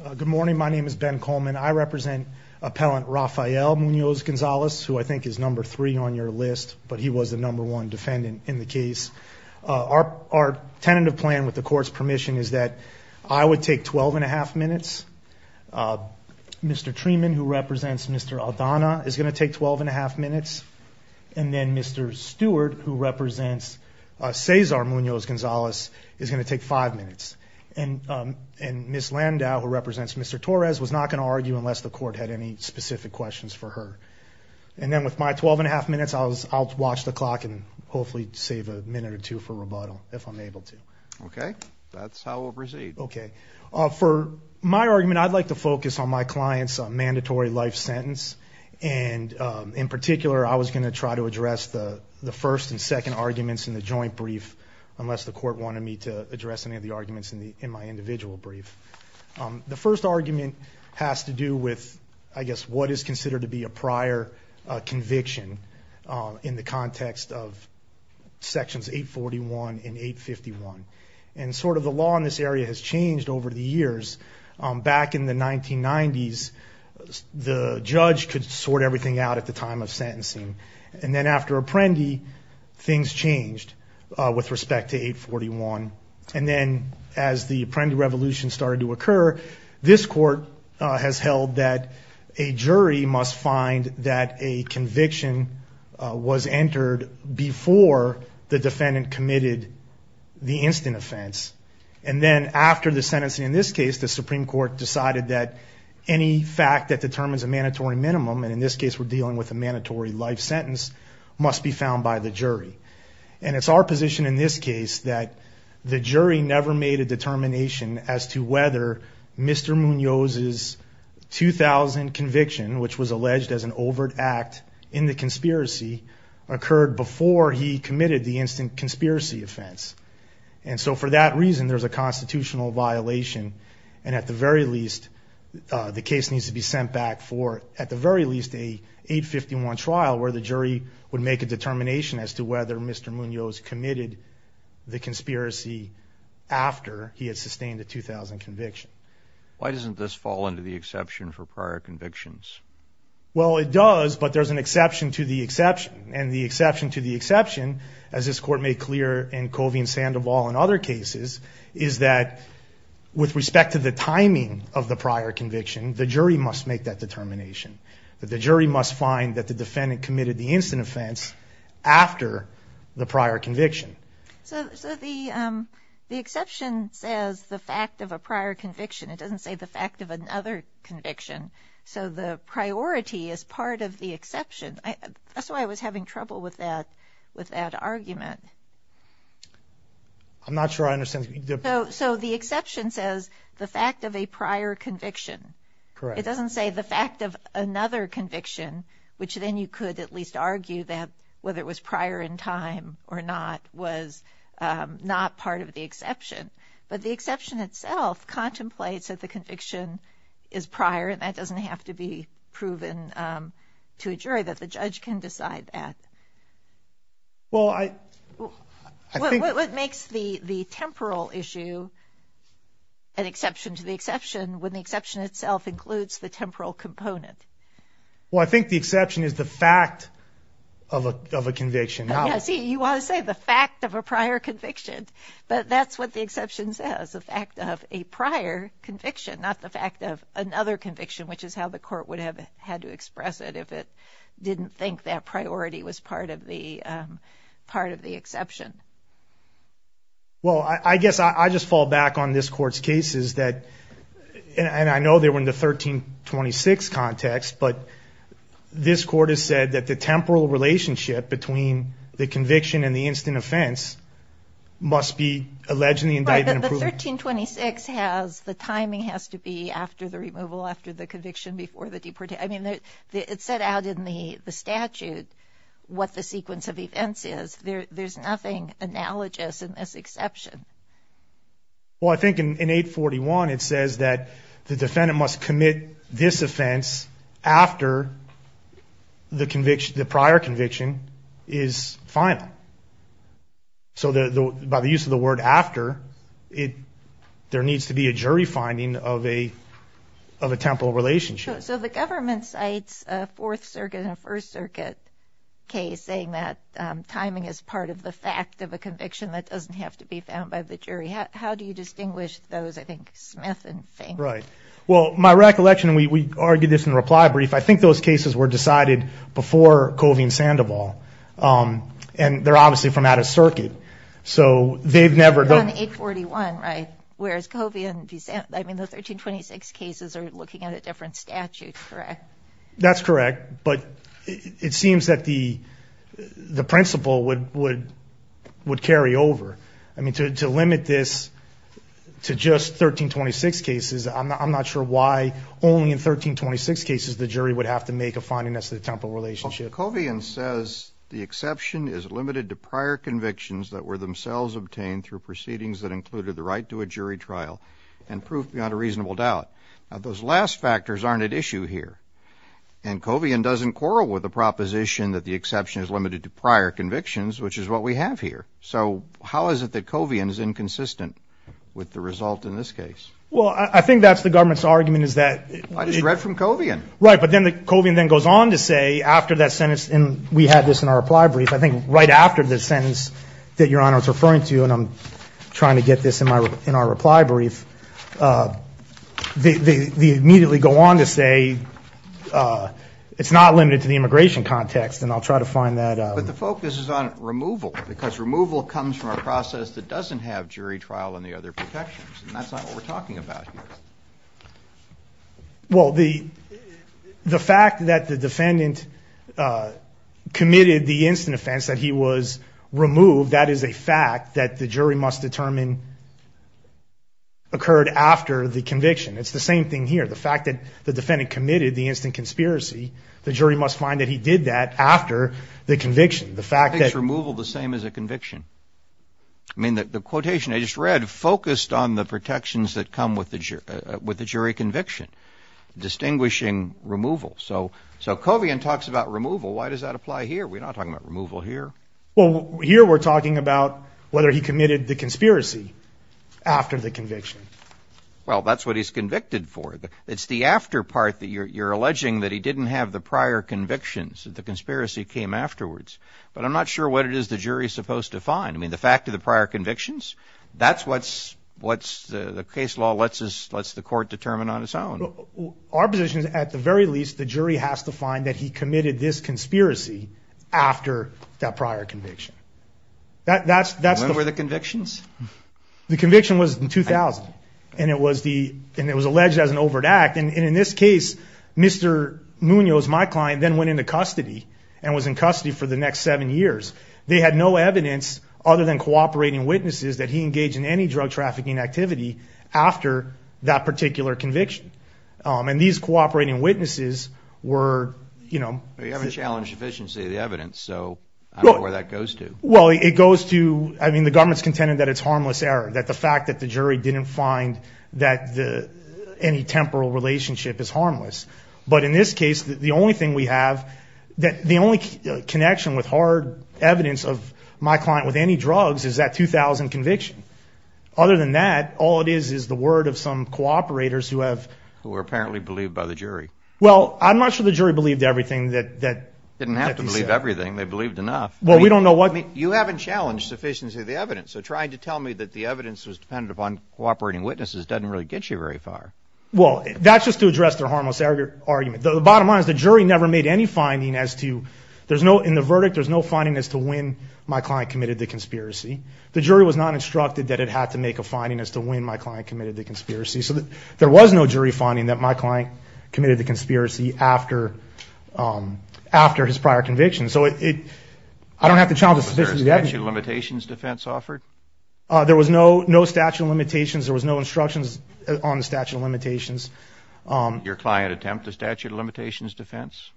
Good morning, my name is Ben Coleman. I represent appellant Rafael Munoz Gonzalez, who I think is number three on your list, but he was the number one defendant in the case. Our tentative plan, with the court's permission, is that I would take 12 and a half minutes. Mr. Treeman, who represents Mr. Aldana, is going to take 12 and a half minutes. And then Mr. Stewart, who represents Cesar Munoz Gonzalez, is going to take five minutes. And Ms. Landau, who represents Mr. Torres, was not going to argue unless the court had any specific questions for her. And then with my 12 and a half minutes, I'll watch the clock and hopefully save a minute or two for rebuttal, if I'm able to. Okay, that's how we'll proceed. Okay, for my argument, I'd like to focus on my client's mandatory life sentence. And in particular, I was going to try to address the first and second arguments in the case. The court wanted me to address any of the arguments in my individual brief. The first argument has to do with, I guess, what is considered to be a prior conviction in the context of Sections 841 and 851. And sort of the law in this area has changed over the years. Back in the 1990s, the judge could sort everything out at the time of sentencing. And then after Apprendi, things changed with respect to 841. And then as the Apprendi Revolution started to occur, this court has held that a jury must find that a conviction was entered before the defendant committed the instant offense. And then after the sentencing, in this case, the Supreme Court decided that any fact that determines a mandatory minimum, and in this case, we're dealing with a mandatory life sentence, and it's our position in this case that the jury never made a determination as to whether Mr. Munoz's 2000 conviction, which was alleged as an overt act in the conspiracy, occurred before he committed the instant conspiracy offense. And so for that reason, there's a constitutional violation. And at the very least, the case needs to be sent back for, at the very least, a 851 trial where the jury would make a determination as to whether Mr. Munoz committed the conspiracy after he had sustained a 2000 conviction. Why doesn't this fall into the exception for prior convictions? Well, it does, but there's an exception to the exception. And the exception to the exception, as this court made clear in Covey and Sandoval and other cases, is that with respect to the timing of the prior conviction, the jury must make that determination. That the jury must find that the defendant committed the prior conviction. So the exception says the fact of a prior conviction. It doesn't say the fact of another conviction. So the priority is part of the exception. That's why I was having trouble with that argument. I'm not sure I understand. So the exception says the fact of a prior conviction. Correct. It doesn't say the fact of another conviction, which then you could at least determine time or not, was not part of the exception. But the exception itself contemplates that the conviction is prior and that doesn't have to be proven to a jury, that the judge can decide that. Well, I think... What makes the temporal issue an exception to the exception when the exception itself includes the temporal component? Well, I think the exception is the fact of a conviction. See, you want to say the fact of a prior conviction, but that's what the exception says, the fact of a prior conviction, not the fact of another conviction, which is how the court would have had to express it if it didn't think that priority was part of the exception. Well, I guess I just fall back on this court's cases that, and I know they were in the 1326 context, but this court has said that the temporal relationship between the conviction and the instant offense must be alleged in the indictment. But the 1326 has, the timing has to be after the removal, after the conviction, before the deportation. I mean, it said out in the statute what the sequence of events is. There's nothing analogous in this exception. Well, I think in 841 it says that the defendant must commit this offense after the conviction, the prior conviction is final. So by the use of the word after, there needs to be a jury finding of a temporal relationship. So the government cites a Fourth Circuit and a First Circuit case saying that it's a fact of a conviction that doesn't have to be found by the jury. How do you distinguish those, I think, Smith and Fink? Right. Well, my recollection, we argued this in a reply brief, I think those cases were decided before Covey and Sandoval, and they're obviously from out of circuit. So they've never- They were done in 841, right? Whereas Covey and, I mean, the 1326 cases are looking at a different statute, correct? That's correct, but it seems that the principle would carry over. I mean, to limit this to just 1326 cases, I'm not sure why only in 1326 cases the jury would have to make a finding as to the temporal relationship. Well, Covey and says the exception is limited to prior convictions that were themselves obtained through proceedings that included the right to a jury trial and proof beyond a reasonable doubt. Now, those last factors aren't at issue here, and Covey and doesn't quarrel with the proposition that the exception is limited to prior convictions, which is what we have here. So how is it that Covey and is inconsistent with the result in this case? Well, I think that's the government's argument is that- I just read from Covey and. Right, but then Covey and then goes on to say after that sentence, and we had this in our reply brief, I think right after the sentence that Your Honor is they immediately go on to say it's not limited to the immigration context, and I'll try to find that- But the focus is on removal, because removal comes from a process that doesn't have jury trial and the other protections, and that's not what we're talking about here. Well, the fact that the defendant committed the instant offense that he was committed the instant conspiracy, the jury must find that he did that after the conviction. The fact that- I think it's removal the same as a conviction. I mean, the quotation I just read focused on the protections that come with the jury conviction, distinguishing removal. So Covey and talks about removal. Why does that apply here? We're not talking about removal here. Well, here we're talking about whether he committed the conspiracy after the conviction. Well, that's what he's convicted for. It's the after part that you're alleging that he didn't have the prior convictions, that the conspiracy came afterwards. But I'm not sure what it is the jury's supposed to find. I mean, the fact of the prior convictions, that's what the case law lets the court determine on its own. Our position is at the very least the jury has to find that he committed this prior conviction. When were the convictions? The conviction was in 2000, and it was alleged as an overt act. And in this case, Mr. Munoz, my client, then went into custody and was in custody for the next seven years. They had no evidence other than cooperating witnesses that he engaged in any drug trafficking activity after that particular conviction. And these cooperating witnesses were- Well, you haven't challenged efficiency of the evidence, so I don't know where that goes to. Well, it goes to, I mean, the government's contending that it's harmless error, that the fact that the jury didn't find that any temporal relationship is harmless. But in this case, the only thing we have, the only connection with hard evidence of my client with any drugs is that 2000 conviction. Other than that, all it is is the word of some cooperators who have- Who were apparently believed by the jury. Well, I'm not sure the jury believed everything that he said. Didn't have to believe everything. They believed enough. Well, we don't know what- You haven't challenged sufficiency of the evidence. So trying to tell me that the evidence was dependent upon cooperating witnesses doesn't really get you very far. Well, that's just to address their harmless argument. The bottom line is the jury never made any finding as to, in the verdict, there's no finding as to when my client committed the conspiracy. The jury was not instructed that it had to make a finding as to when my client committed the conspiracy. So there was no jury finding that my client committed the conspiracy after his prior conviction. So I don't have to challenge the sufficiency of the evidence. Was there a statute of limitations defense offered? There was no statute of limitations. There was no instructions on the statute of limitations. Did your client attempt the statute of limitations defense?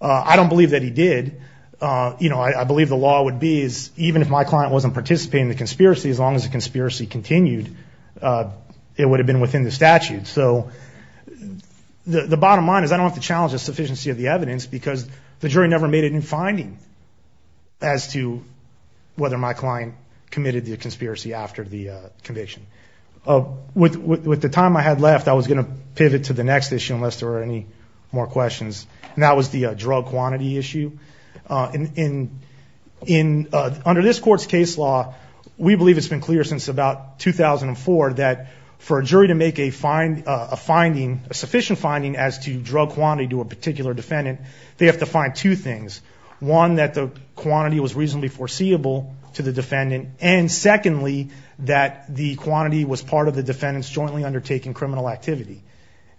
I don't believe that he did. I believe the law would be, even if my client wasn't participating in the conspiracy, as long as the conspiracy continued, it wouldn't have happened. So the bottom line is I don't have to challenge the sufficiency of the evidence because the jury never made any finding as to whether my client committed the conspiracy after the conviction. With the time I had left, I was going to pivot to the next issue, unless there were any more questions, and that was the drug quantity issue. Under this court's case law, we believe it's been clear since about 2004 that for a jury to make a sufficient finding as to drug quantity to a particular defendant, they have to find two things. One, that the quantity was reasonably foreseeable to the defendant, and secondly, that the quantity was part of the defendant's jointly undertaking criminal activity.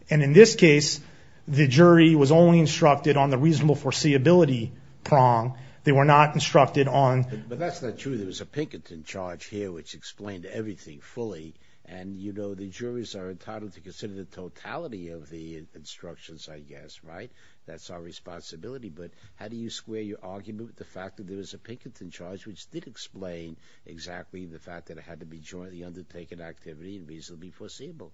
In this case, the jury was only instructed on the reasonable foreseeability prong. They were not instructed on... But that's not true. There was a Pinkerton charge here which explained everything fully, and the juries are entitled to consider the totality of the instructions, I guess, right? That's our responsibility, but how do you square your argument with the fact that there was a Pinkerton charge which did explain exactly the fact that it had to be jointly undertaken activity and reasonably foreseeable?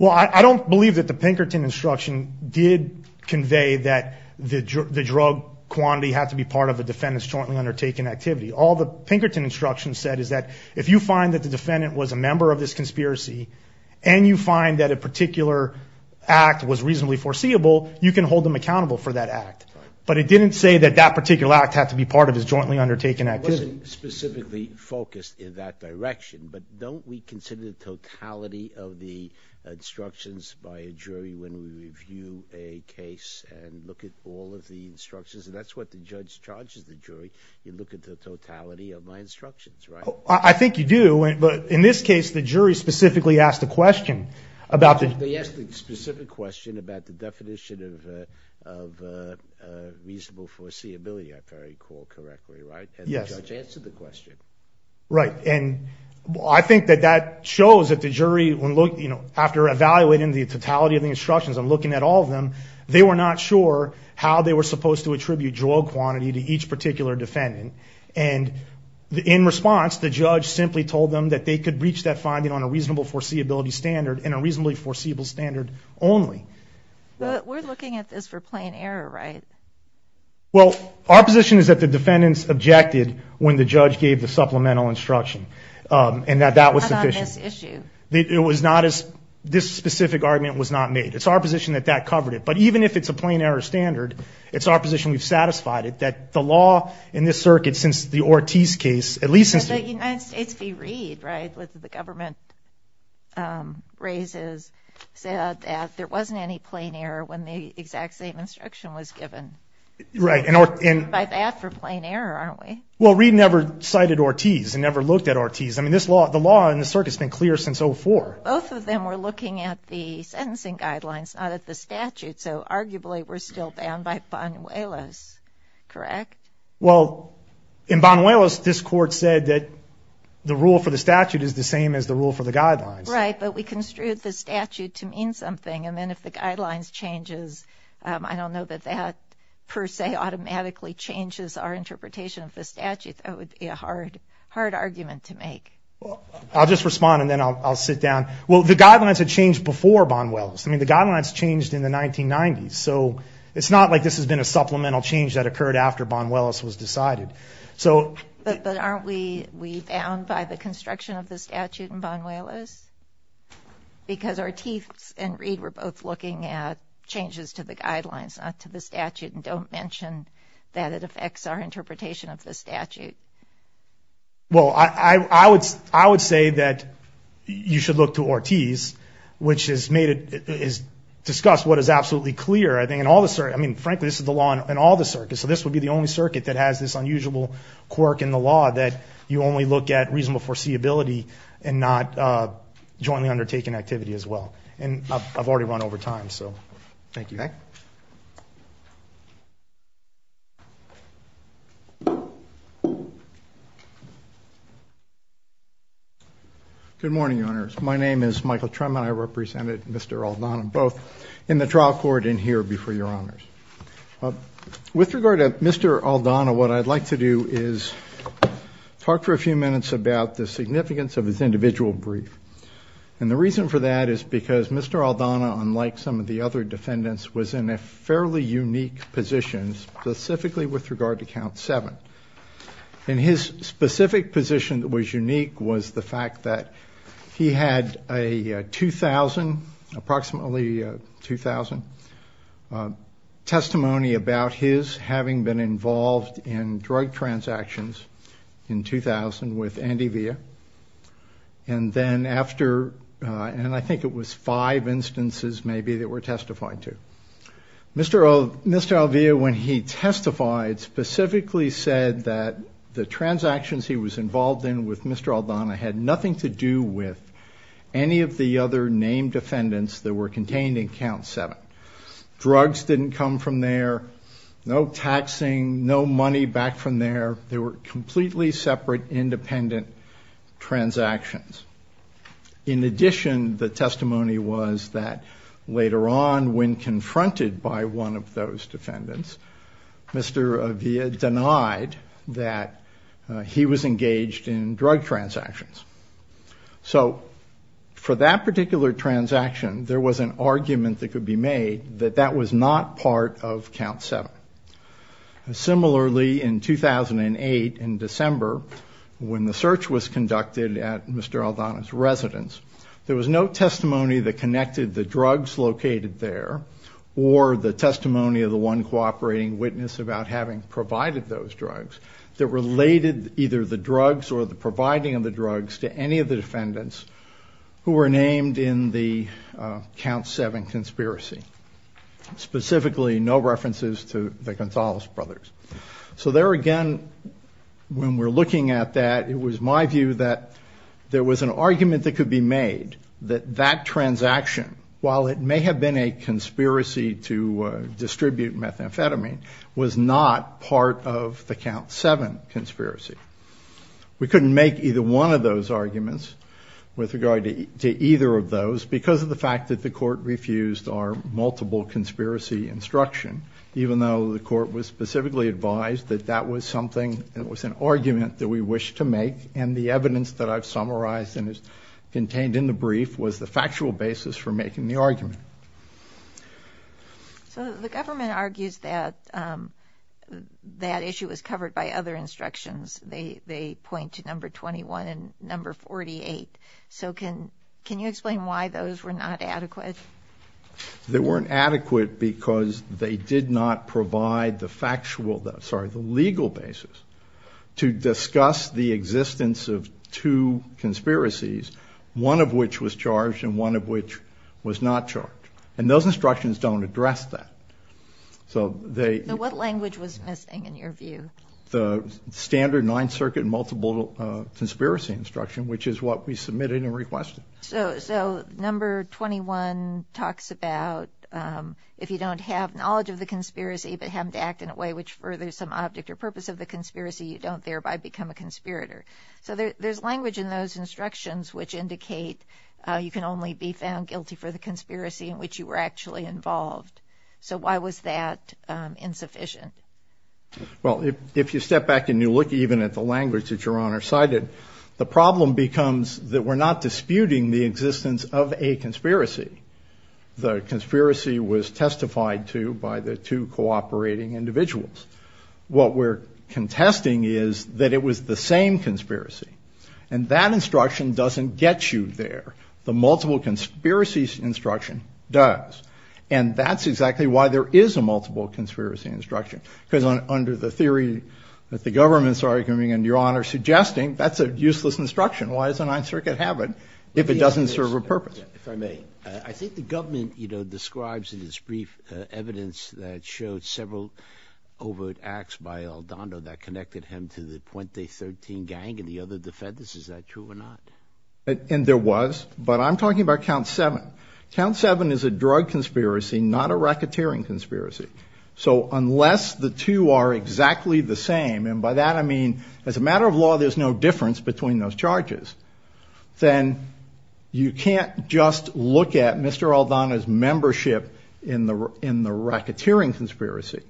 Well, I don't believe that the Pinkerton instruction did convey that the drug quantity had to be part of the defendant's jointly undertaken activity. All the Pinkerton instruction said is that if you find that the defendant was a member of this conspiracy and you find that a particular act was reasonably foreseeable, you can hold them accountable for that act. But it didn't say that that particular act had to be part of his jointly undertaken activity. It wasn't specifically focused in that direction, but don't we consider the totality of the instructions by a jury when we review a case and look at all of the instructions? That's what the judge charges the jury. You look at the totality of my instructions, right? I think you do, but in this case, the jury specifically asked a question about the... They asked a specific question about the definition of reasonable foreseeability, if I recall correctly, right? Yes. And the judge answered the question. Right, and I think that that shows that the jury, after evaluating the totality of the instructions and looking at all of them, they were not sure how they were supposed to attribute drogue quantity to each particular defendant. And in response, the judge simply told them that they could reach that finding on a reasonable foreseeability standard and a reasonably foreseeable standard only. But we're looking at this for plain error, right? Well, our position is that the defendants objected when the judge gave the supplemental instruction and that that was sufficient. How about this issue? It was not as... This specific argument was not made. It's our position that that covered it. But even if it's a plain error standard, it's our position we've satisfied it, that the law in this circuit, since the Ortiz case, at least since... But the United States v. Reed, right, with the government raises, said that there wasn't any plain error when the exact same instruction was given. Right, and... By that for plain error, aren't we? Well, Reed never cited Ortiz and never looked at Ortiz. I mean, the law in the circuit has been clear since 04. Both of them were looking at the sentencing guidelines, not at the statutes. So arguably, we're still bound by Banuelos, correct? Well, in Banuelos, this Court said that the rule for the statute is the same as the rule for the guidelines. Right, but we construed the statute to mean something. And then if the guidelines changes, I don't know that that, per se, automatically changes our interpretation of the statute. That would be a hard argument to make. Well, I'll just respond, and then I'll sit down. Well, the guidelines had changed before Banuelos. I mean, the guidelines changed in the 1990s. So it's not like this has been a supplemental change that occurred after Banuelos was decided. But aren't we bound by the construction of the statute in Banuelos? Because Ortiz and Reed were both looking at changes to the guidelines, not to the statute, and don't mention that it affects our interpretation of the statute. Well, I would say that you should look to Ortiz, which has discussed what is absolutely clear, I think, in all the circuits. I mean, frankly, this is the law in all the circuits. So this would be the only circuit that has this unusual quirk in the law, that you only look at reasonable foreseeability and not jointly undertaken activity as well. And I've already run over time, so thank you. Thank you. Good morning, Your Honors. My name is Michael Tremont. I represented Mr. Aldana, both in the trial court and here before Your Honors. With regard to Mr. Aldana, what I'd like to do is talk for a few minutes about the significance of his individual brief. And the reason for that is because Mr. Aldana, unlike some of the other defendants, was in a fairly unique position, specifically with regard to Count 7. And his specific position that was unique was the fact that he had a 2,000, approximately 2,000, testimony about his having been involved in drug transactions in 2000 with Antivia. And then after, and I think it was five instances maybe that were testified to. Mr. Alvia, when he testified, specifically said that the transactions he was involved in with Mr. Aldana had nothing to do with any of the other named defendants that were contained in Count 7. Drugs didn't come from there. No taxing. No money back from there. They were completely separate, independent transactions. In addition, the testimony was that later on, when confronted by one of those defendants, Mr. Alvia denied that he was engaged in drug transactions. So for that particular transaction, there was an argument that could be made that that was not part of Count 7. Similarly, in 2008, in December, when the search was conducted at Mr. Aldana's residence, there was no testimony that connected the drugs located there or the testimony of the one cooperating witness about having provided those drugs that related either the drugs or the providing of the drugs to any of the defendants who were named in the Count 7 conspiracy. Specifically, no references to the Gonzalez brothers. So there again, when we're looking at that, it was my view that there was an argument that could be made that that transaction, while it may have been a conspiracy to distribute methamphetamine, was not part of the Count 7 conspiracy. We couldn't make either one of those arguments with regard to either of those because of the fact that the court refused our multiple conspiracy instruction, even though the court was specifically advised that that was something, it was an argument that we wished to make, and the evidence that I've summarized and is contained in the brief was the factual basis for making the argument. So the government argues that that issue was covered by other instructions. They point to number 21 and number 48. So can you explain why those were not adequate? They weren't adequate because they did not provide the legal basis to discuss the existence of two conspiracies, one of which was charged and one of which was not charged. And those instructions don't address that. So what language was missing in your view? The standard Ninth Circuit multiple conspiracy instruction, which is what we submitted and requested. So number 21 talks about if you don't have knowledge of the conspiracy but have to act in a way which furthers some object or purpose of the conspiracy, you don't thereby become a conspirator. So there's language in those instructions which indicate you can only be found guilty for the conspiracy in which you were actually involved. So why was that insufficient? Well, if you step back and you look even at the language that Your Honor cited, the problem becomes that we're not disputing the existence of a conspiracy. The conspiracy was testified to by the two cooperating individuals. What we're contesting is that it was the same conspiracy. And that instruction doesn't get you there. The multiple conspiracy instruction does. And that's exactly why there is a multiple conspiracy instruction, because under the theory that the government's arguing and Your Honor's suggesting, that's a useless instruction. Why does the Ninth Circuit have it if it doesn't serve a purpose? If I may. I think the government, you know, describes in its brief evidence that it showed several overt acts by Aldondo that connected him to the Puente 13 gang and the other defendants. Is that true or not? And there was. But I'm talking about Count 7. Count 7 is a drug conspiracy, not a racketeering conspiracy. So unless the two are exactly the same, and by that I mean as a matter of law, there's no difference between those charges, then you can't just look at Mr. Aldondo's membership in the racketeering conspiracy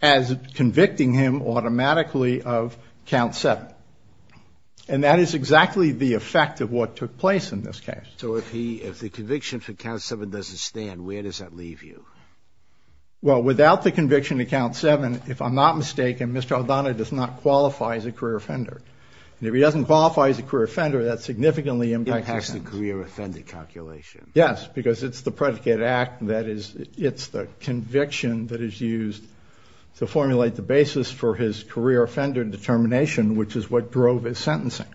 as convicting him automatically of Count 7. And that is exactly the effect of what took place in this case. So if the conviction for Count 7 doesn't stand, where does that leave you? Well, without the conviction of Count 7, if I'm not mistaken, Mr. Aldondo does not qualify as a career offender. And if he doesn't qualify as a career offender, that significantly impacts the sentence. It impacts the career offender calculation. Yes, because it's the predicated act that is the conviction that is used to formulate the basis for his career offender determination, which is what drove his sentencing.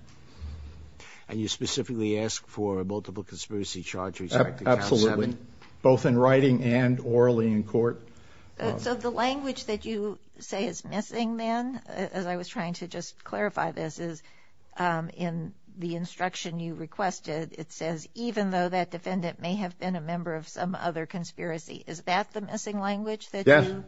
And you specifically ask for multiple conspiracy charges after Count 7? Absolutely. Both in writing and orally in court. So the language that you say is missing then, as I was trying to just clarify this, is in the instruction you requested, it says, even though that defendant may have been a member of some other conspiracy. Is that the missing language that you use? Yes.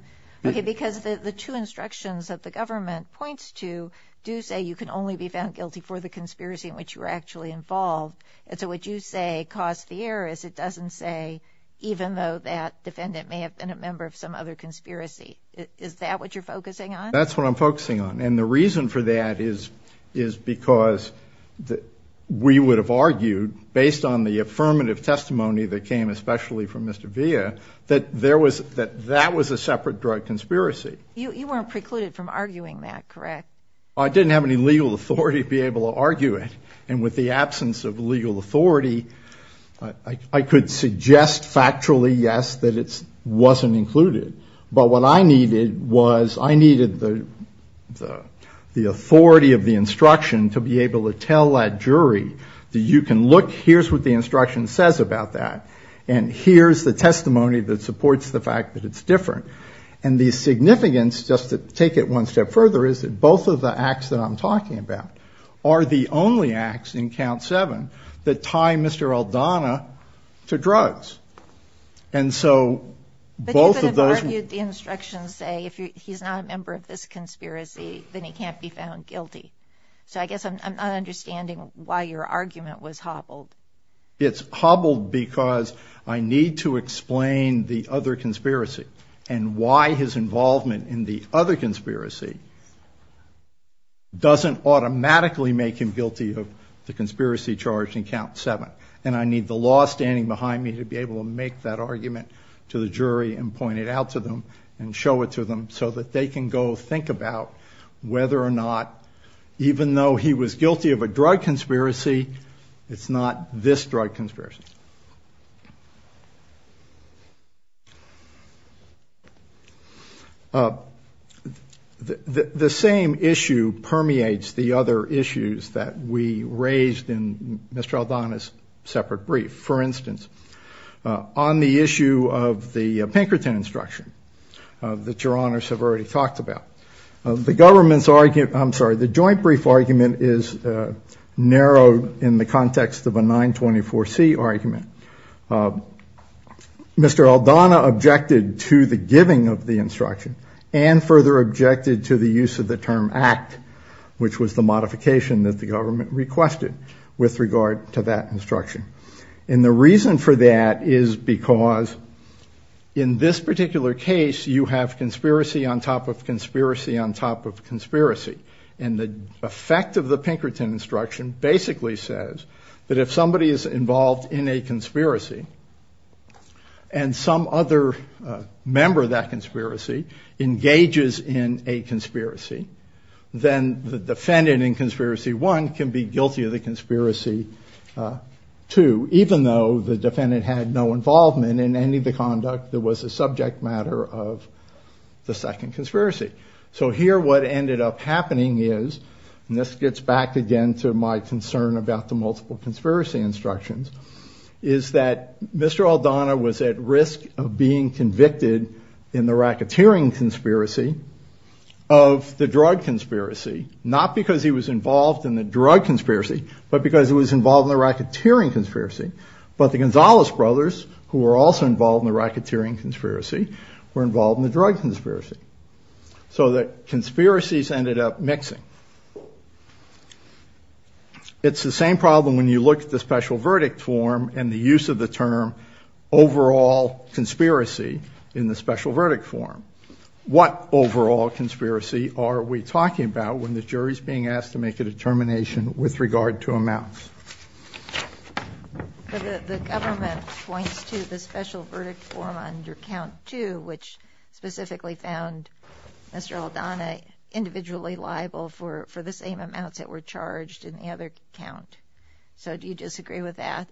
Okay, because the two instructions that the government points to do say you can only be found guilty for the conspiracy in which you were actually involved. And so what you say caused the error is it doesn't say, even though that defendant may have been a member of some other conspiracy. Is that what you're focusing on? That's what I'm focusing on. And the reason for that is because we would have argued, based on the affirmative testimony that came especially from Mr. Villa, that that was a separate drug conspiracy. You weren't precluded from arguing that, correct? I didn't have any legal authority to be able to argue it. And with the absence of legal authority, I could suggest factually, yes, that it wasn't included. But what I needed was I needed the authority of the instruction to be able to tell that jury that you can look, here's what the instruction says about that, and here's the testimony that supports the fact that it's different. And the significance, just to take it one step further, is that both of the acts that I'm talking about are the only acts in Count 7 that tie Mr. Aldana to drugs. And so both of those- But you could have argued the instructions say, if he's not a member of this conspiracy, then he can't be found guilty. So I guess I'm not understanding why your argument was hobbled. It's hobbled because I need to explain the other conspiracy and why his involvement in the other conspiracy doesn't automatically make him guilty of the conspiracy charged in Count 7. And I need the law standing behind me to be able to make that argument to the jury and point it out to them and show it to them so that they can go think about whether or not, even though he was guilty of a drug conspiracy, it's not this drug conspiracy. The same issue permeates the other issues that we raised in Mr. Aldana's separate brief. For instance, on the issue of the Pinkerton instruction that Your Honors have already talked about, the joint brief argument is narrowed in the context of a 924C argument. Mr. Aldana objected to the giving of the instruction and further objected to the use of the term act, which was the modification that the government requested with regard to that instruction. And the reason for that is because in this particular case, you have conspiracy on top of conspiracy on top of conspiracy. And the effect of the Pinkerton instruction basically says that if somebody is involved in a conspiracy and some other member of that conspiracy engages in a conspiracy, then the defendant in conspiracy one can be guilty of the conspiracy two, even though the defendant had no involvement in any of the conduct that was a subject matter of the second conspiracy. So here what ended up happening is, and this gets back again to my concern about the multiple conspiracy instructions, is that Mr. Aldana was at risk of being convicted in the racketeering conspiracy of the drug conspiracy, not because he was involved in the drug conspiracy, but because he was involved in the racketeering conspiracy. But the Gonzalez brothers, who were also involved in the racketeering conspiracy, were involved in the drug conspiracy. So the conspiracies ended up mixing. It's the same problem when you look at the special verdict form and the use of the term overall conspiracy in the special verdict form. What overall conspiracy are we talking about when the jury is being asked to make a determination with regard to amounts? The government points to the special verdict form under count two, which specifically found Mr. Aldana individually liable for the same amounts that were charged in the other count. So do you disagree with that?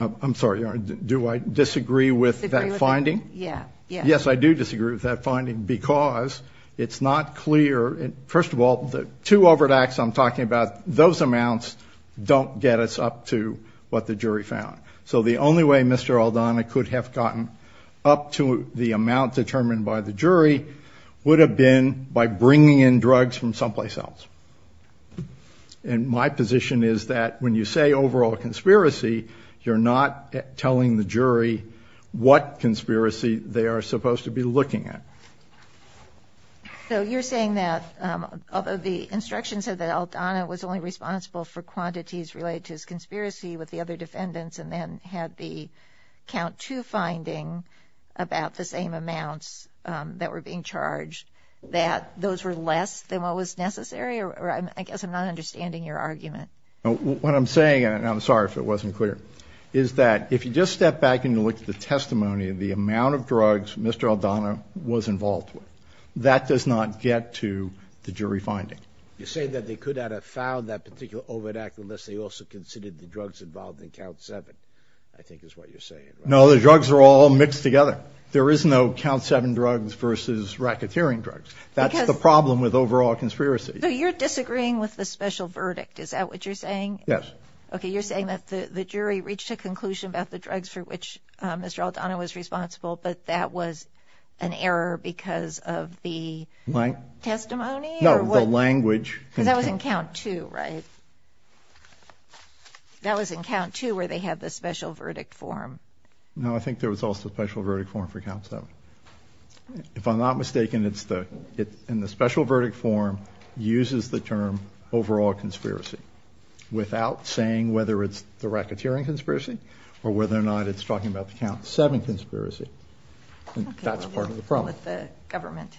I'm sorry, do I disagree with that finding? Yeah. Yes, I do disagree with that finding because it's not clear. First of all, the two overt acts I'm talking about, those amounts don't get us up to what the jury found. So the only way Mr. Aldana could have gotten up to the amount determined by the jury would have been by bringing in drugs from someplace else. And my position is that when you say overall conspiracy, you're not telling the jury what conspiracy they are supposed to be looking at. So you're saying that, although the instructions said that and then had the count two finding about the same amounts that were being charged, that those were less than what was necessary? I guess I'm not understanding your argument. What I'm saying, and I'm sorry if it wasn't clear, is that if you just step back and you look at the testimony of the amount of drugs Mr. Aldana was involved with, that does not get to the jury finding. You're saying that they could not have found that particular overt act unless they also considered the drugs involved in count seven, I think is what you're saying. No, the drugs are all mixed together. There is no count seven drugs versus racketeering drugs. That's the problem with overall conspiracy. So you're disagreeing with the special verdict. Is that what you're saying? Yes. Okay, you're saying that the jury reached a conclusion about the drugs for which Mr. Aldana was responsible, but that was an error because of the testimony? No, the language. Because that was in count two, right? That was in count two where they had the special verdict form. No, I think there was also a special verdict form for count seven. If I'm not mistaken, in the special verdict form uses the term overall conspiracy, without saying whether it's the racketeering conspiracy or whether or not it's talking about the count seven conspiracy. That's part of the problem. Let the government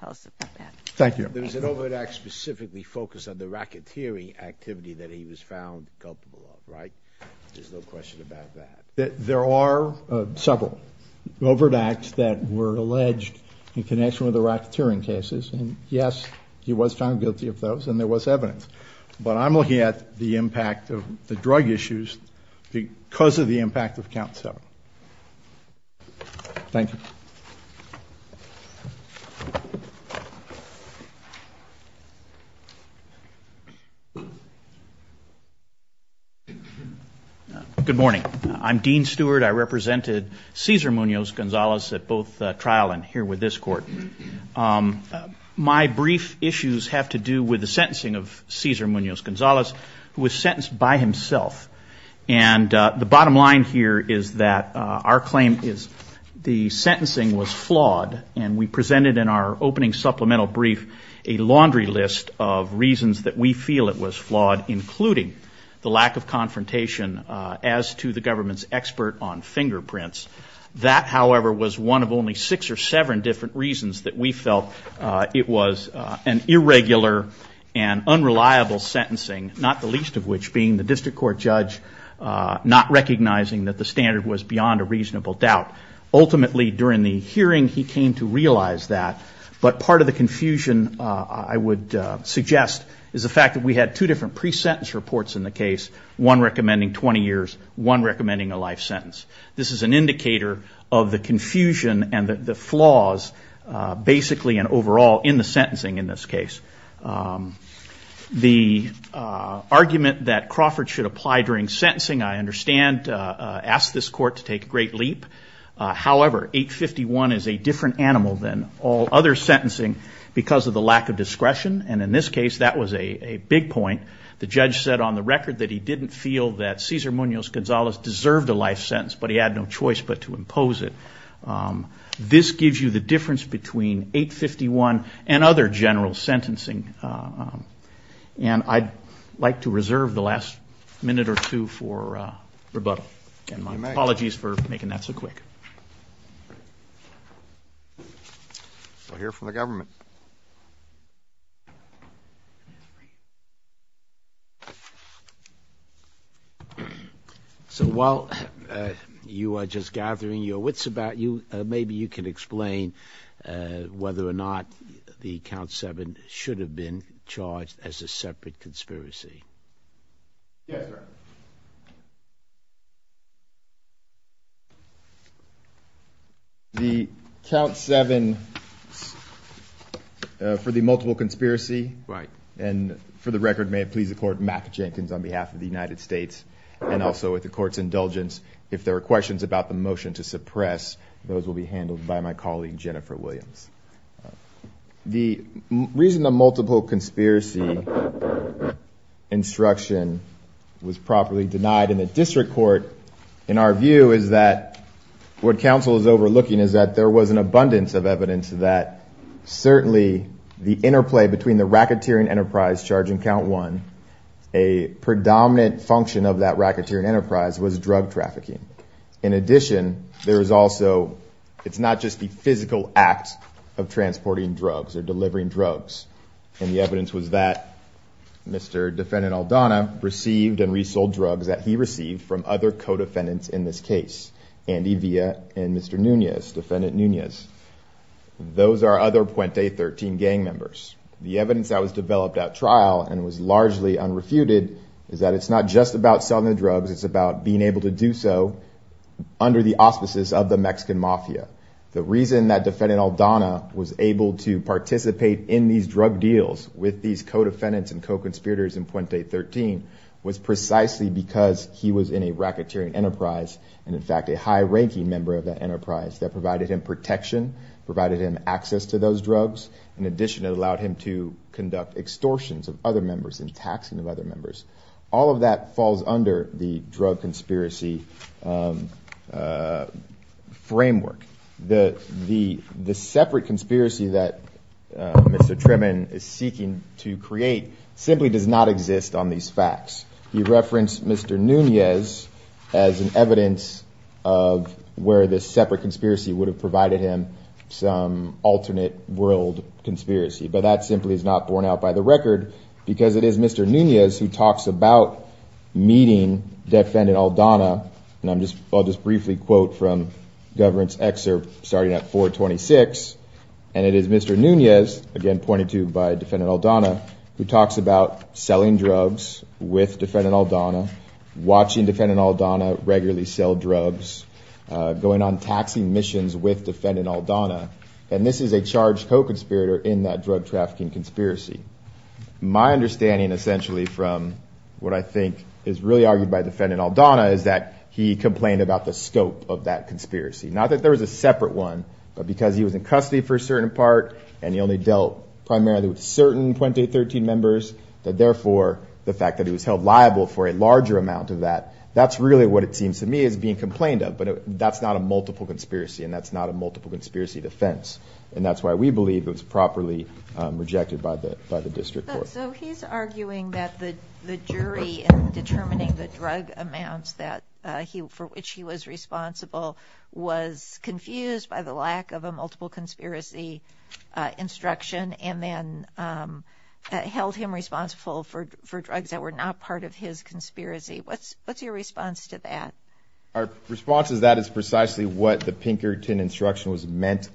tell us about that. Thank you. There was an overt act specifically focused on the racketeering activity that he was found culpable of, right? There's no question about that. There are several overt acts that were alleged in connection with the racketeering cases, and, yes, he was found guilty of those and there was evidence. But I'm looking at the impact of the drug issues because of the impact of count seven. Thank you. Good morning. I'm Dean Stewart. I represented Cesar Munoz-Gonzalez at both trial and here with this court. My brief issues have to do with the sentencing of Cesar Munoz-Gonzalez, who was sentenced by himself. And the bottom line here is that our claim is the sentencing was flawed, and we presented in our opening supplemental brief a laundry list of reasons that we feel it was flawed, including the lack of confrontation as to the government's expert on fingerprints. That, however, was one of only six or seven different reasons that we felt it was an irregular and unreliable sentencing, not the least of which being the district court judge not recognizing that the standard was beyond a reasonable doubt. Ultimately, during the hearing, he came to realize that. But part of the confusion, I would suggest, is the fact that we had two different pre-sentence reports in the case, one recommending 20 years, one recommending a life sentence. This is an indicator of the confusion and the flaws basically and overall in the sentencing in this case. The argument that Crawford should apply during sentencing, I understand, asked this court to take a great leap. However, 851 is a different animal than all other sentencing because of the lack of discretion. And in this case, that was a big point. The judge said on the record that he didn't feel that Cesar Munoz-Gonzalez deserved a life sentence, but he had no choice but to impose it. This gives you the difference between 851 and other general sentencing. And I'd like to reserve the last minute or two for rebuttal. And my apologies for making that so quick. We'll hear from the government. So while you are just gathering your wits about you, maybe you can explain whether or not the count seven should have been charged as a separate conspiracy. Yes, sir. The count seven for the multiple conspiracy. Right. And for the record, may it please the court, Mack Jenkins on behalf of the United States and also with the court's indulgence, if there are questions about the motion to suppress, those will be handled by my colleague, Jennifer Williams. The reason the multiple conspiracy instruction was properly denied in the district court, in our view, is that what counsel is overlooking is that there was an abundance of evidence that certainly the interplay between the racketeering enterprise charging count one, a predominant function of that racketeering enterprise was drug trafficking. In addition, there is also, it's not just the physical act of transporting drugs or delivering drugs. And the evidence was that Mr. Defendant Aldana received and resold drugs that he received from other co-defendants in this case, Andy Villa and Mr. Nunez, Defendant Nunez. Those are other Puente 13 gang members. The evidence that was developed at trial and was largely unrefuted is that it's not just about selling the drugs, it's about being able to do so under the auspices of the Mexican mafia. The reason that Defendant Aldana was able to participate in these drug deals with these co-defendants and co-conspirators in Puente 13 was precisely because he was in a racketeering enterprise, and in fact a high-ranking member of that enterprise that provided him protection, provided him access to those drugs. In addition, it allowed him to conduct extortions of other members and taxing of other members. All of that falls under the drug conspiracy framework. The separate conspiracy that Mr. Trimmon is seeking to create simply does not exist on these facts. He referenced Mr. Nunez as an evidence of where this separate conspiracy would have provided him some alternate world conspiracy, but that simply is not borne out by the record because it is Mr. Nunez who talks about meeting Defendant Aldana, and I'll just briefly quote from Government's excerpt starting at 426, and it is Mr. Nunez, again pointed to by Defendant Aldana, who talks about selling drugs with Defendant Aldana, watching Defendant Aldana regularly sell drugs, going on taxing missions with Defendant Aldana, and this is a charged co-conspirator in that drug trafficking conspiracy. My understanding essentially from what I think is really argued by Defendant Aldana is that he complained about the scope of that conspiracy. Not that there was a separate one, but because he was in custody for a certain part, and he only dealt primarily with certain Puente 13 members, that therefore the fact that he was held liable for a larger amount of that, that's really what it seems to me as being complained of. But that's not a multiple conspiracy, and that's not a multiple conspiracy defense, and that's why we believe it was properly rejected by the district court. So he's arguing that the jury in determining the drug amounts for which he was responsible was confused by the lack of a multiple conspiracy instruction, and then held him responsible for drugs that were not part of his conspiracy. What's your response to that? Our response is that is precisely what the Pinkerton instruction was meant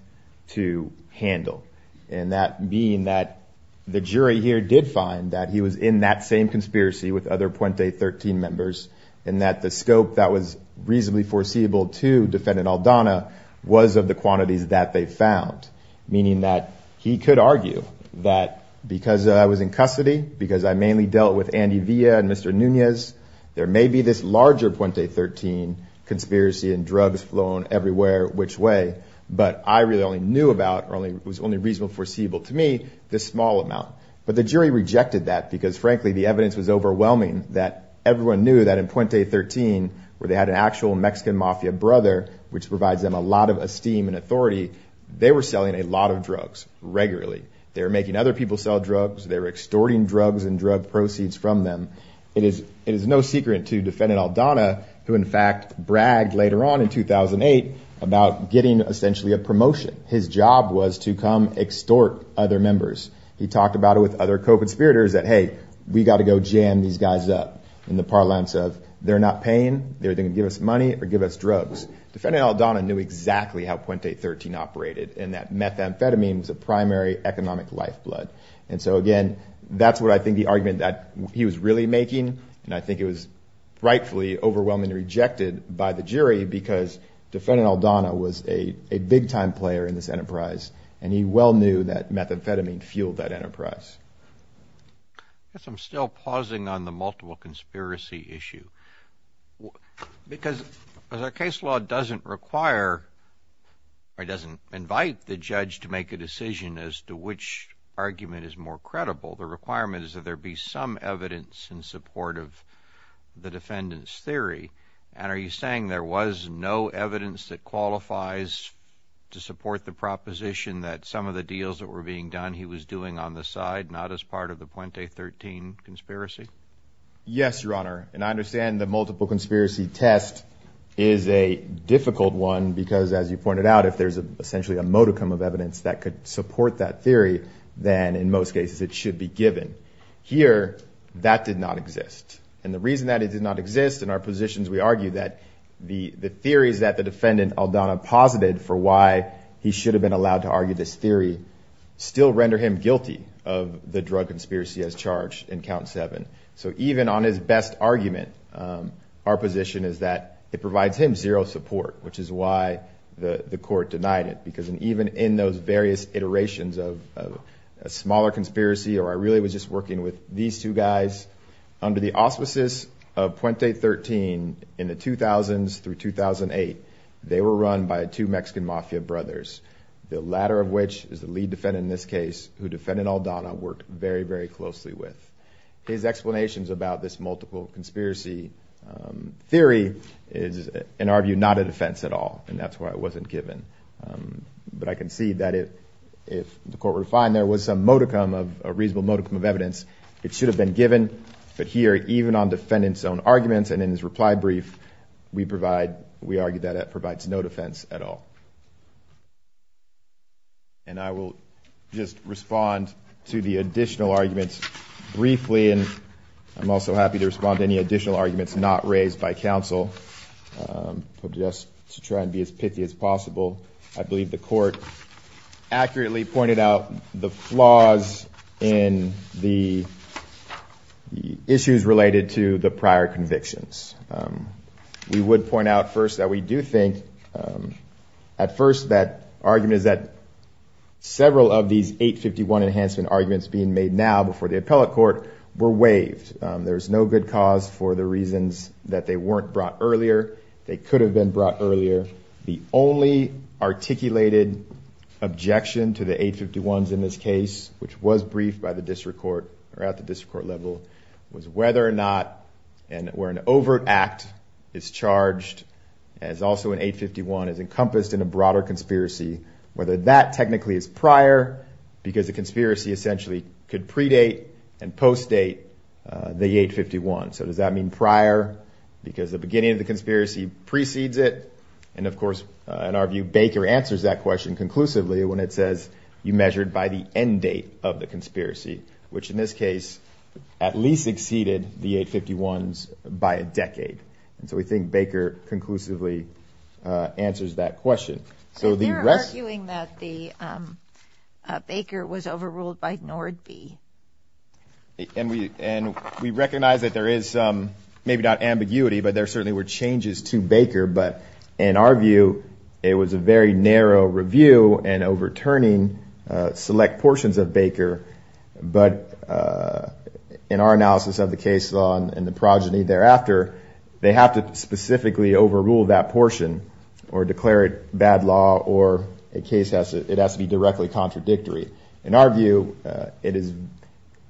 to handle. And that being that the jury here did find that he was in that same conspiracy with other Puente 13 members, and that the scope that was reasonably foreseeable to Defendant Aldana was of the quantities that they found. Meaning that he could argue that because I was in custody, because I mainly dealt with Andy Villa and Mr. Nunez, there may be this larger Puente 13 conspiracy and drugs flown everywhere which way, but I really only knew about, or it was only reasonably foreseeable to me, this small amount. But the jury rejected that because frankly the evidence was overwhelming that everyone knew that in Puente 13, where they had an actual Mexican mafia brother, which provides them a lot of esteem and authority, they were selling a lot of drugs regularly. They were making other people sell drugs. They were extorting drugs and drug proceeds from them. It is no secret to Defendant Aldana, who in fact bragged later on in 2008 about getting essentially a promotion. His job was to come extort other members. He talked about it with other co-conspirators that, hey, we got to go jam these guys up. In the parlance of they're not paying, they're going to give us money or give us drugs. Defendant Aldana knew exactly how Puente 13 operated and that methamphetamine was a primary economic lifeblood. And so again, that's what I think the argument that he was really making, and I think it was rightfully overwhelmingly rejected by the jury because Defendant Aldana was a big-time player in this enterprise and he well knew that methamphetamine fueled that enterprise. I guess I'm still pausing on the multiple conspiracy issue. Because the case law doesn't require or doesn't invite the judge to make a decision as to which argument is more credible. The requirement is that there be some evidence in support of the defendant's theory. And are you saying there was no evidence that qualifies to support the proposition that some of the deals that were being done he was doing on the side, not as part of the Puente 13 conspiracy? Yes, Your Honor. And I understand the multiple conspiracy test is a difficult one because as you pointed out, if there's essentially a modicum of evidence that could support that theory, then in most cases it should be given. Here, that did not exist. And the reason that it did not exist, in our positions we argue that the theories that the defendant Aldana posited for why he should have been allowed to argue this theory, still render him guilty of the drug conspiracy as charged in count seven. So even on his best argument, our position is that it provides him zero support, which is why the court denied it. Because even in those various iterations of a smaller conspiracy, or I really was just working with these two guys, under the auspices of Puente 13 in the 2000s through 2008, they were run by two Mexican mafia brothers. The latter of which is the lead defendant in this case, who defendant Aldana worked very, very closely with. His explanations about this multiple conspiracy theory is, in our view, not a defense at all. And that's why it wasn't given. But I can see that if the court were to find there was some modicum of, a reasonable modicum of evidence, it should have been given. But here, even on defendant's own arguments and in his reply brief, we provide, we argue that it provides no defense at all. And I will just respond to the additional arguments briefly. And I'm also happy to respond to any additional arguments not raised by counsel, just to try and be as pithy as possible. I believe the court accurately pointed out the flaws in the issues related to the prior convictions. We would point out first that we do think, at first that argument is that several of these 851 enhancement arguments being made now before the appellate court were waived. There's no good cause for the reasons that they weren't brought earlier, they could have been brought earlier. The only articulated objection to the 851s in this case, which was briefed by the district court or at the district court level, was whether or not, and where an overt act is charged, as also in 851, is encompassed in a broader conspiracy, whether that technically is prior, because the conspiracy essentially could predate and post-date the 851. So does that mean prior, because the beginning of the conspiracy precedes it? And of course, in our view, Baker answers that question conclusively when it says you measured by the end date of the conspiracy, which in this case at least exceeded the 851s by a decade. And so we think Baker conclusively answers that question. And they're arguing that the Baker was overruled by Nordby. And we recognize that there is maybe not ambiguity, but there certainly were changes to Baker, but in our view, it was a very narrow review and overturning select portions of Baker, but in our analysis of the case law and the progeny thereafter, they have to specifically overrule that portion or declare it bad law or it has to be directly contradictory. In our view,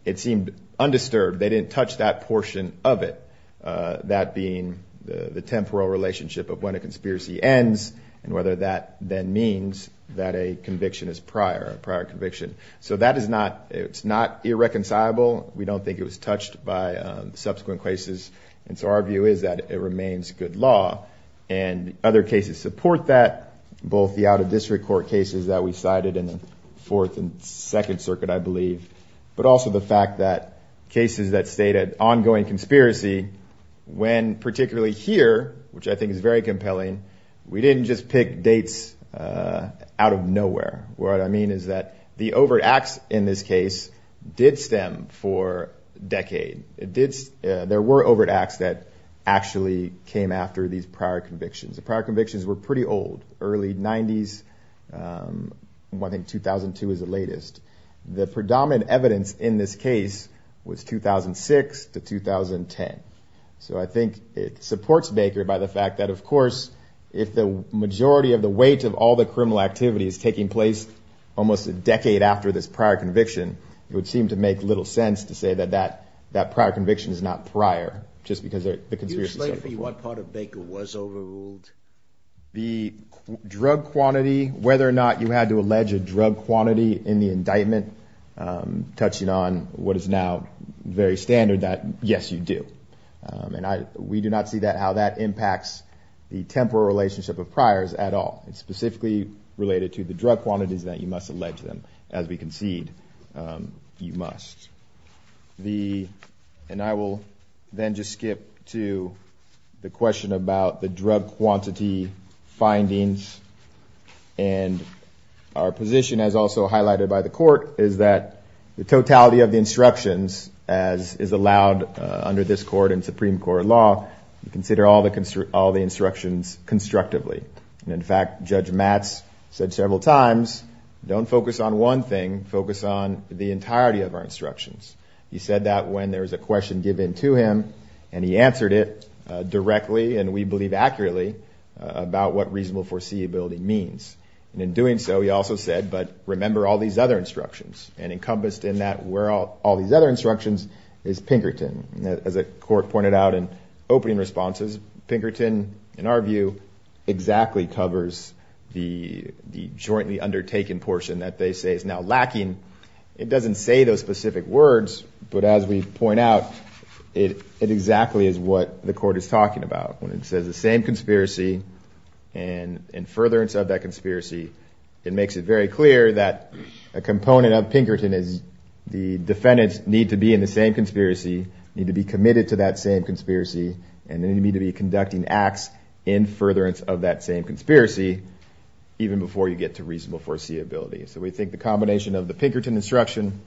it seemed undisturbed. They didn't touch that portion of it, that being the temporal relationship of when a conspiracy ends and whether that then means that a conviction is prior, a prior conviction. So that is not irreconcilable. We don't think it was touched by subsequent cases, and so our view is that it remains good law. And other cases support that, both the out-of-district court cases that we cited in the Fourth and Second Circuit, I believe, but also the fact that cases that state an ongoing conspiracy when particularly here, which I think is very compelling, we didn't just pick dates out of nowhere. What I mean is that the overt acts in this case did stem for a decade. There were overt acts that actually came after these prior convictions. The prior convictions were pretty old, early 90s, I think 2002 is the latest. The predominant evidence in this case was 2006 to 2010. So I think it supports Baker by the fact that, of course, if the majority of the weight of all the criminal activity is taking place almost a decade after this prior conviction, it would seem to make little sense to say that that prior conviction is not prior, just because the conspiracy is overruled. The drug quantity, whether or not you had to allege a drug quantity in the indictment, touching on what is now very standard, that, yes, you do. And we do not see how that impacts the temporal relationship of priors at all. It's specifically related to the drug quantities that you must allege them. As we concede, you must. And I will then just skip to the question about the drug quantity findings. And our position, as also highlighted by the court, is that the totality of the instructions, as is allowed under this court and Supreme Court law, you consider all the instructions constructively. And, in fact, Judge Matz said several times, don't focus on one thing, focus on the entirety of our instructions. He said that when there was a question given to him, and he answered it directly, and we believe accurately about what reasonable foreseeability means. And in doing so, he also said, but remember all these other instructions. And encompassed in that were all these other instructions is Pinkerton. As the court pointed out in opening responses, Pinkerton, in our view, exactly covers the jointly undertaken portion that they say is now lacking. It doesn't say those specific words, but as we point out, it exactly is what the court is talking about. When it says the same conspiracy, and in furtherance of that conspiracy, it makes it very clear that a component of Pinkerton is the defendants need to be in the same conspiracy, need to be committed to that same conspiracy, and they need to be conducting acts in furtherance of that same conspiracy even before you get to reasonable foreseeability. So we think the combination of the Pinkerton instruction,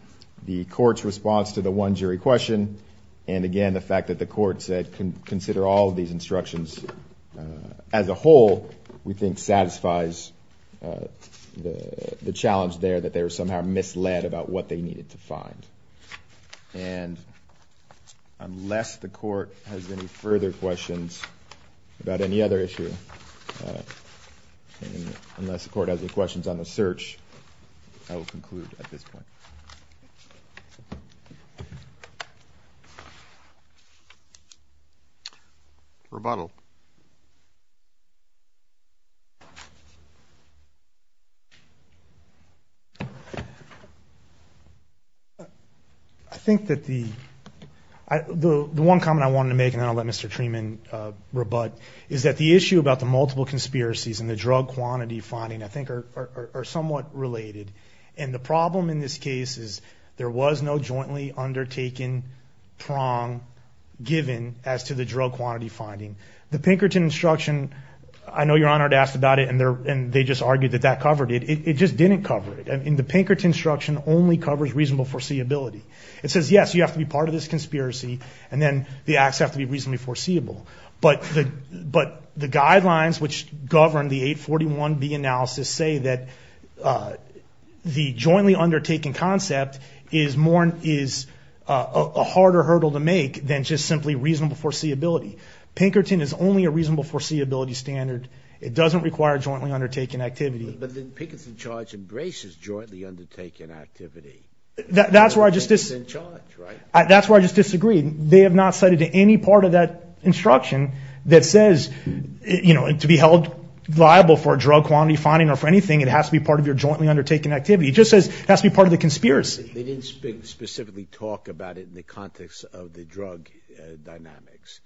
the court's response to the one jury question, and, again, the fact that the court said consider all of these instructions as a whole, we think satisfies the challenge there that they were somehow misled about what they needed to find. And unless the court has any further questions about any other issue, unless the court has any questions on the search, I will conclude at this point. Rebuttal. I think that the one comment I wanted to make, and then I'll let Mr. Treeman rebut, is that the issue about the multiple conspiracies and the drug quantity finding, I think, are somewhat related. And the problem in this case is there was no jointly undertaken prong given as to the drug quantity finding. The Pinkerton instruction, I know Your Honor had asked about it, and they just argued that that covered it. It just didn't cover it, and the Pinkerton instruction only covers reasonable foreseeability. It says, yes, you have to be part of this conspiracy, and then the acts have to be reasonably foreseeable. But the guidelines which govern the 841B analysis say that the jointly undertaken concept is a harder hurdle to make than just simply reasonable foreseeability. Pinkerton is only a reasonable foreseeability standard. It doesn't require jointly undertaken activity. But the Pinkerton charge embraces jointly undertaken activity. That's where I just disagree. They have not cited any part of that instruction that says to be held liable for a drug quantity finding or for anything, it has to be part of your jointly undertaken activity. It just says it has to be part of the conspiracy. They didn't specifically talk about it in the context of the drug dynamics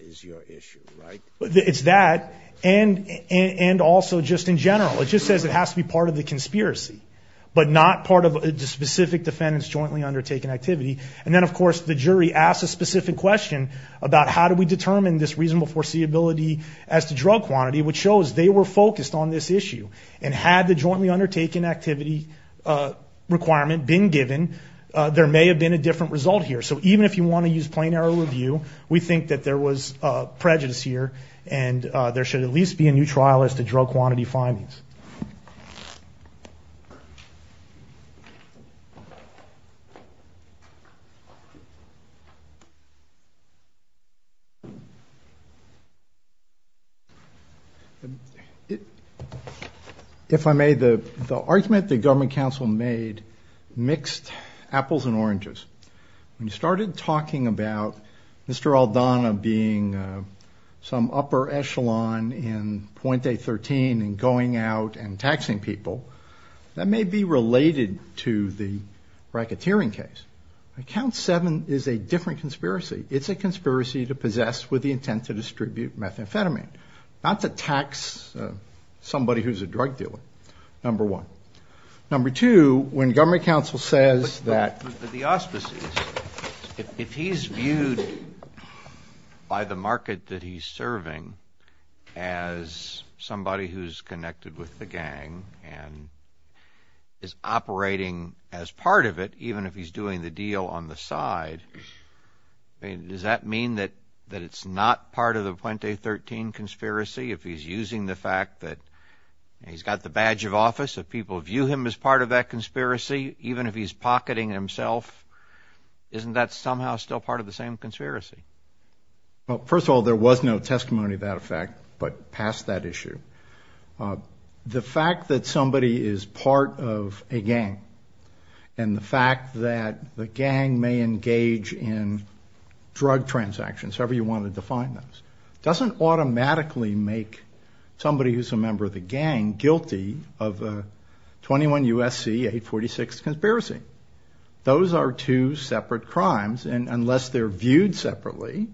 is your issue, right? It's that, and also just in general. It just says it has to be part of the conspiracy, but not part of the specific defendant's jointly undertaken activity. And then, of course, the jury asks a specific question about how do we determine this reasonable foreseeability as to drug quantity, which shows they were focused on this issue. And had the jointly undertaken activity requirement been given, there may have been a different result here. So even if you want to use plain error review, we think that there was prejudice here, and there should at least be a new trial as to drug quantity findings. If I may, the argument the government council made mixed apples and oranges. When you started talking about Mr. Aldana being some upper echelon in point A13 and going out and taxing people, that may be related to the racketeering case. Account seven is a different conspiracy. It's a conspiracy to possess with the intent to distribute methamphetamine, not to tax somebody who's a drug dealer, number one. Number two, when government council says that... The auspices, if he's viewed by the market that he's serving as somebody who's connected with the gang and is operating as part of it, even if he's doing the deal on the side, does that mean that it's not part of the point A13 conspiracy? If he's using the fact that he's got the badge of office, if people view him as part of that conspiracy, even if he's pocketing himself, isn't that somehow still part of the same conspiracy? First of all, there was no testimony to that effect, but past that issue. The fact that somebody is part of a gang and the fact that the gang may engage in drug transactions, however you want to define those, doesn't automatically make somebody who's a member of the gang guilty of a 21 U.S.C. 846 conspiracy. Those are two separate crimes, and unless they're viewed separately,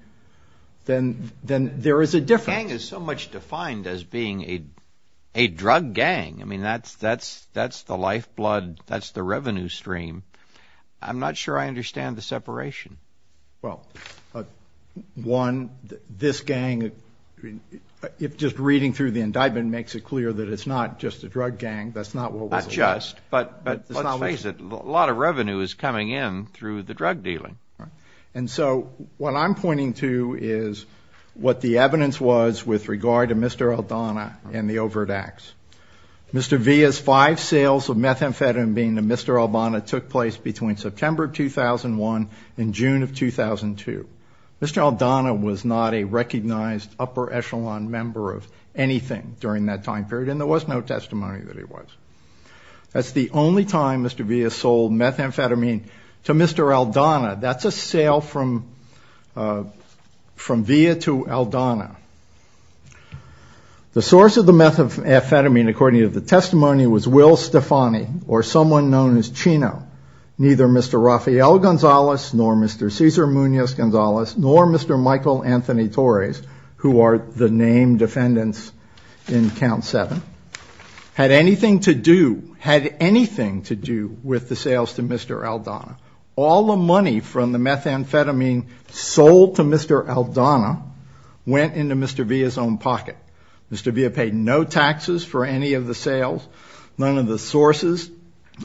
then there is a difference. The gang is so much defined as being a drug gang. I mean, that's the lifeblood, that's the revenue stream. I'm not sure I understand the separation. Well, one, this gang, just reading through the indictment makes it clear that it's not just a drug gang. That's not what was alleged. But let's face it, a lot of revenue is coming in through the drug dealing. And so what I'm pointing to is what the evidence was with regard to Mr. Aldana and the overt acts. Mr. Villa's five sales of methamphetamine to Mr. Aldana took place between September of 2001 and June of 2002. Mr. Aldana was not a recognized upper echelon member of anything during that time period, and there was no testimony that he was. That's the only time Mr. Villa sold methamphetamine to Mr. Aldana. That's a sale from Villa to Aldana. The source of the methamphetamine, according to the testimony, was Will Stefani, or someone known as Chino. Neither Mr. Rafael Gonzalez, nor Mr. Cesar Munoz Gonzalez, nor Mr. Michael Anthony Torres, who are the named defendants in Count 7, had anything to do, had anything to do, with the sales to Mr. Aldana. All the money from the methamphetamine sold to Mr. Aldana went into Mr. Villa's own pocket. Mr. Villa paid no taxes for any of the sales. None of the sources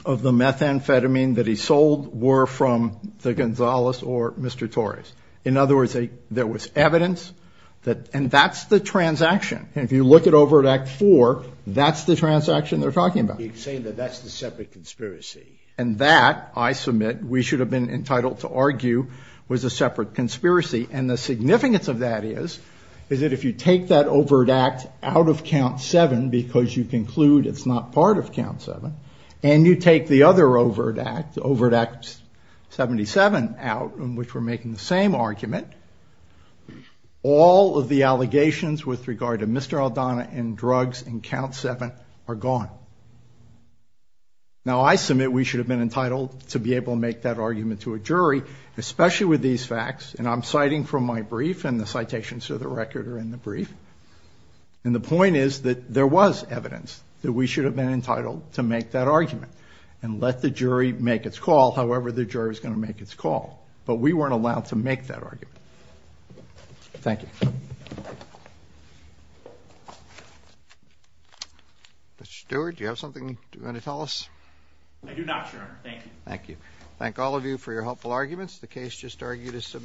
of the methamphetamine that he sold were from the Gonzalez or Mr. Torres. In other words, there was evidence that, and that's the transaction. And if you look at Overt Act 4, that's the transaction they're talking about. And that, I submit, we should have been entitled to argue, was a separate conspiracy. And the significance of that is, is that if you take that Overt Act out of Count 7, because you conclude it's not part of Count 7, and you take the other Overt Act, Overt Act 77 out, in which we're making the same argument, all of the allegations with regard to Mr. Aldana and drugs in Count 7 are gone. Now, I submit we should have been entitled to be able to make that argument to a jury, especially with these facts, and I'm citing from my brief, and the citations to the record are in the brief. And the point is that there was evidence that we should have been entitled to make that argument and let the jury make its call, however the jury's going to make its call. But we weren't allowed to make that argument. Thank you.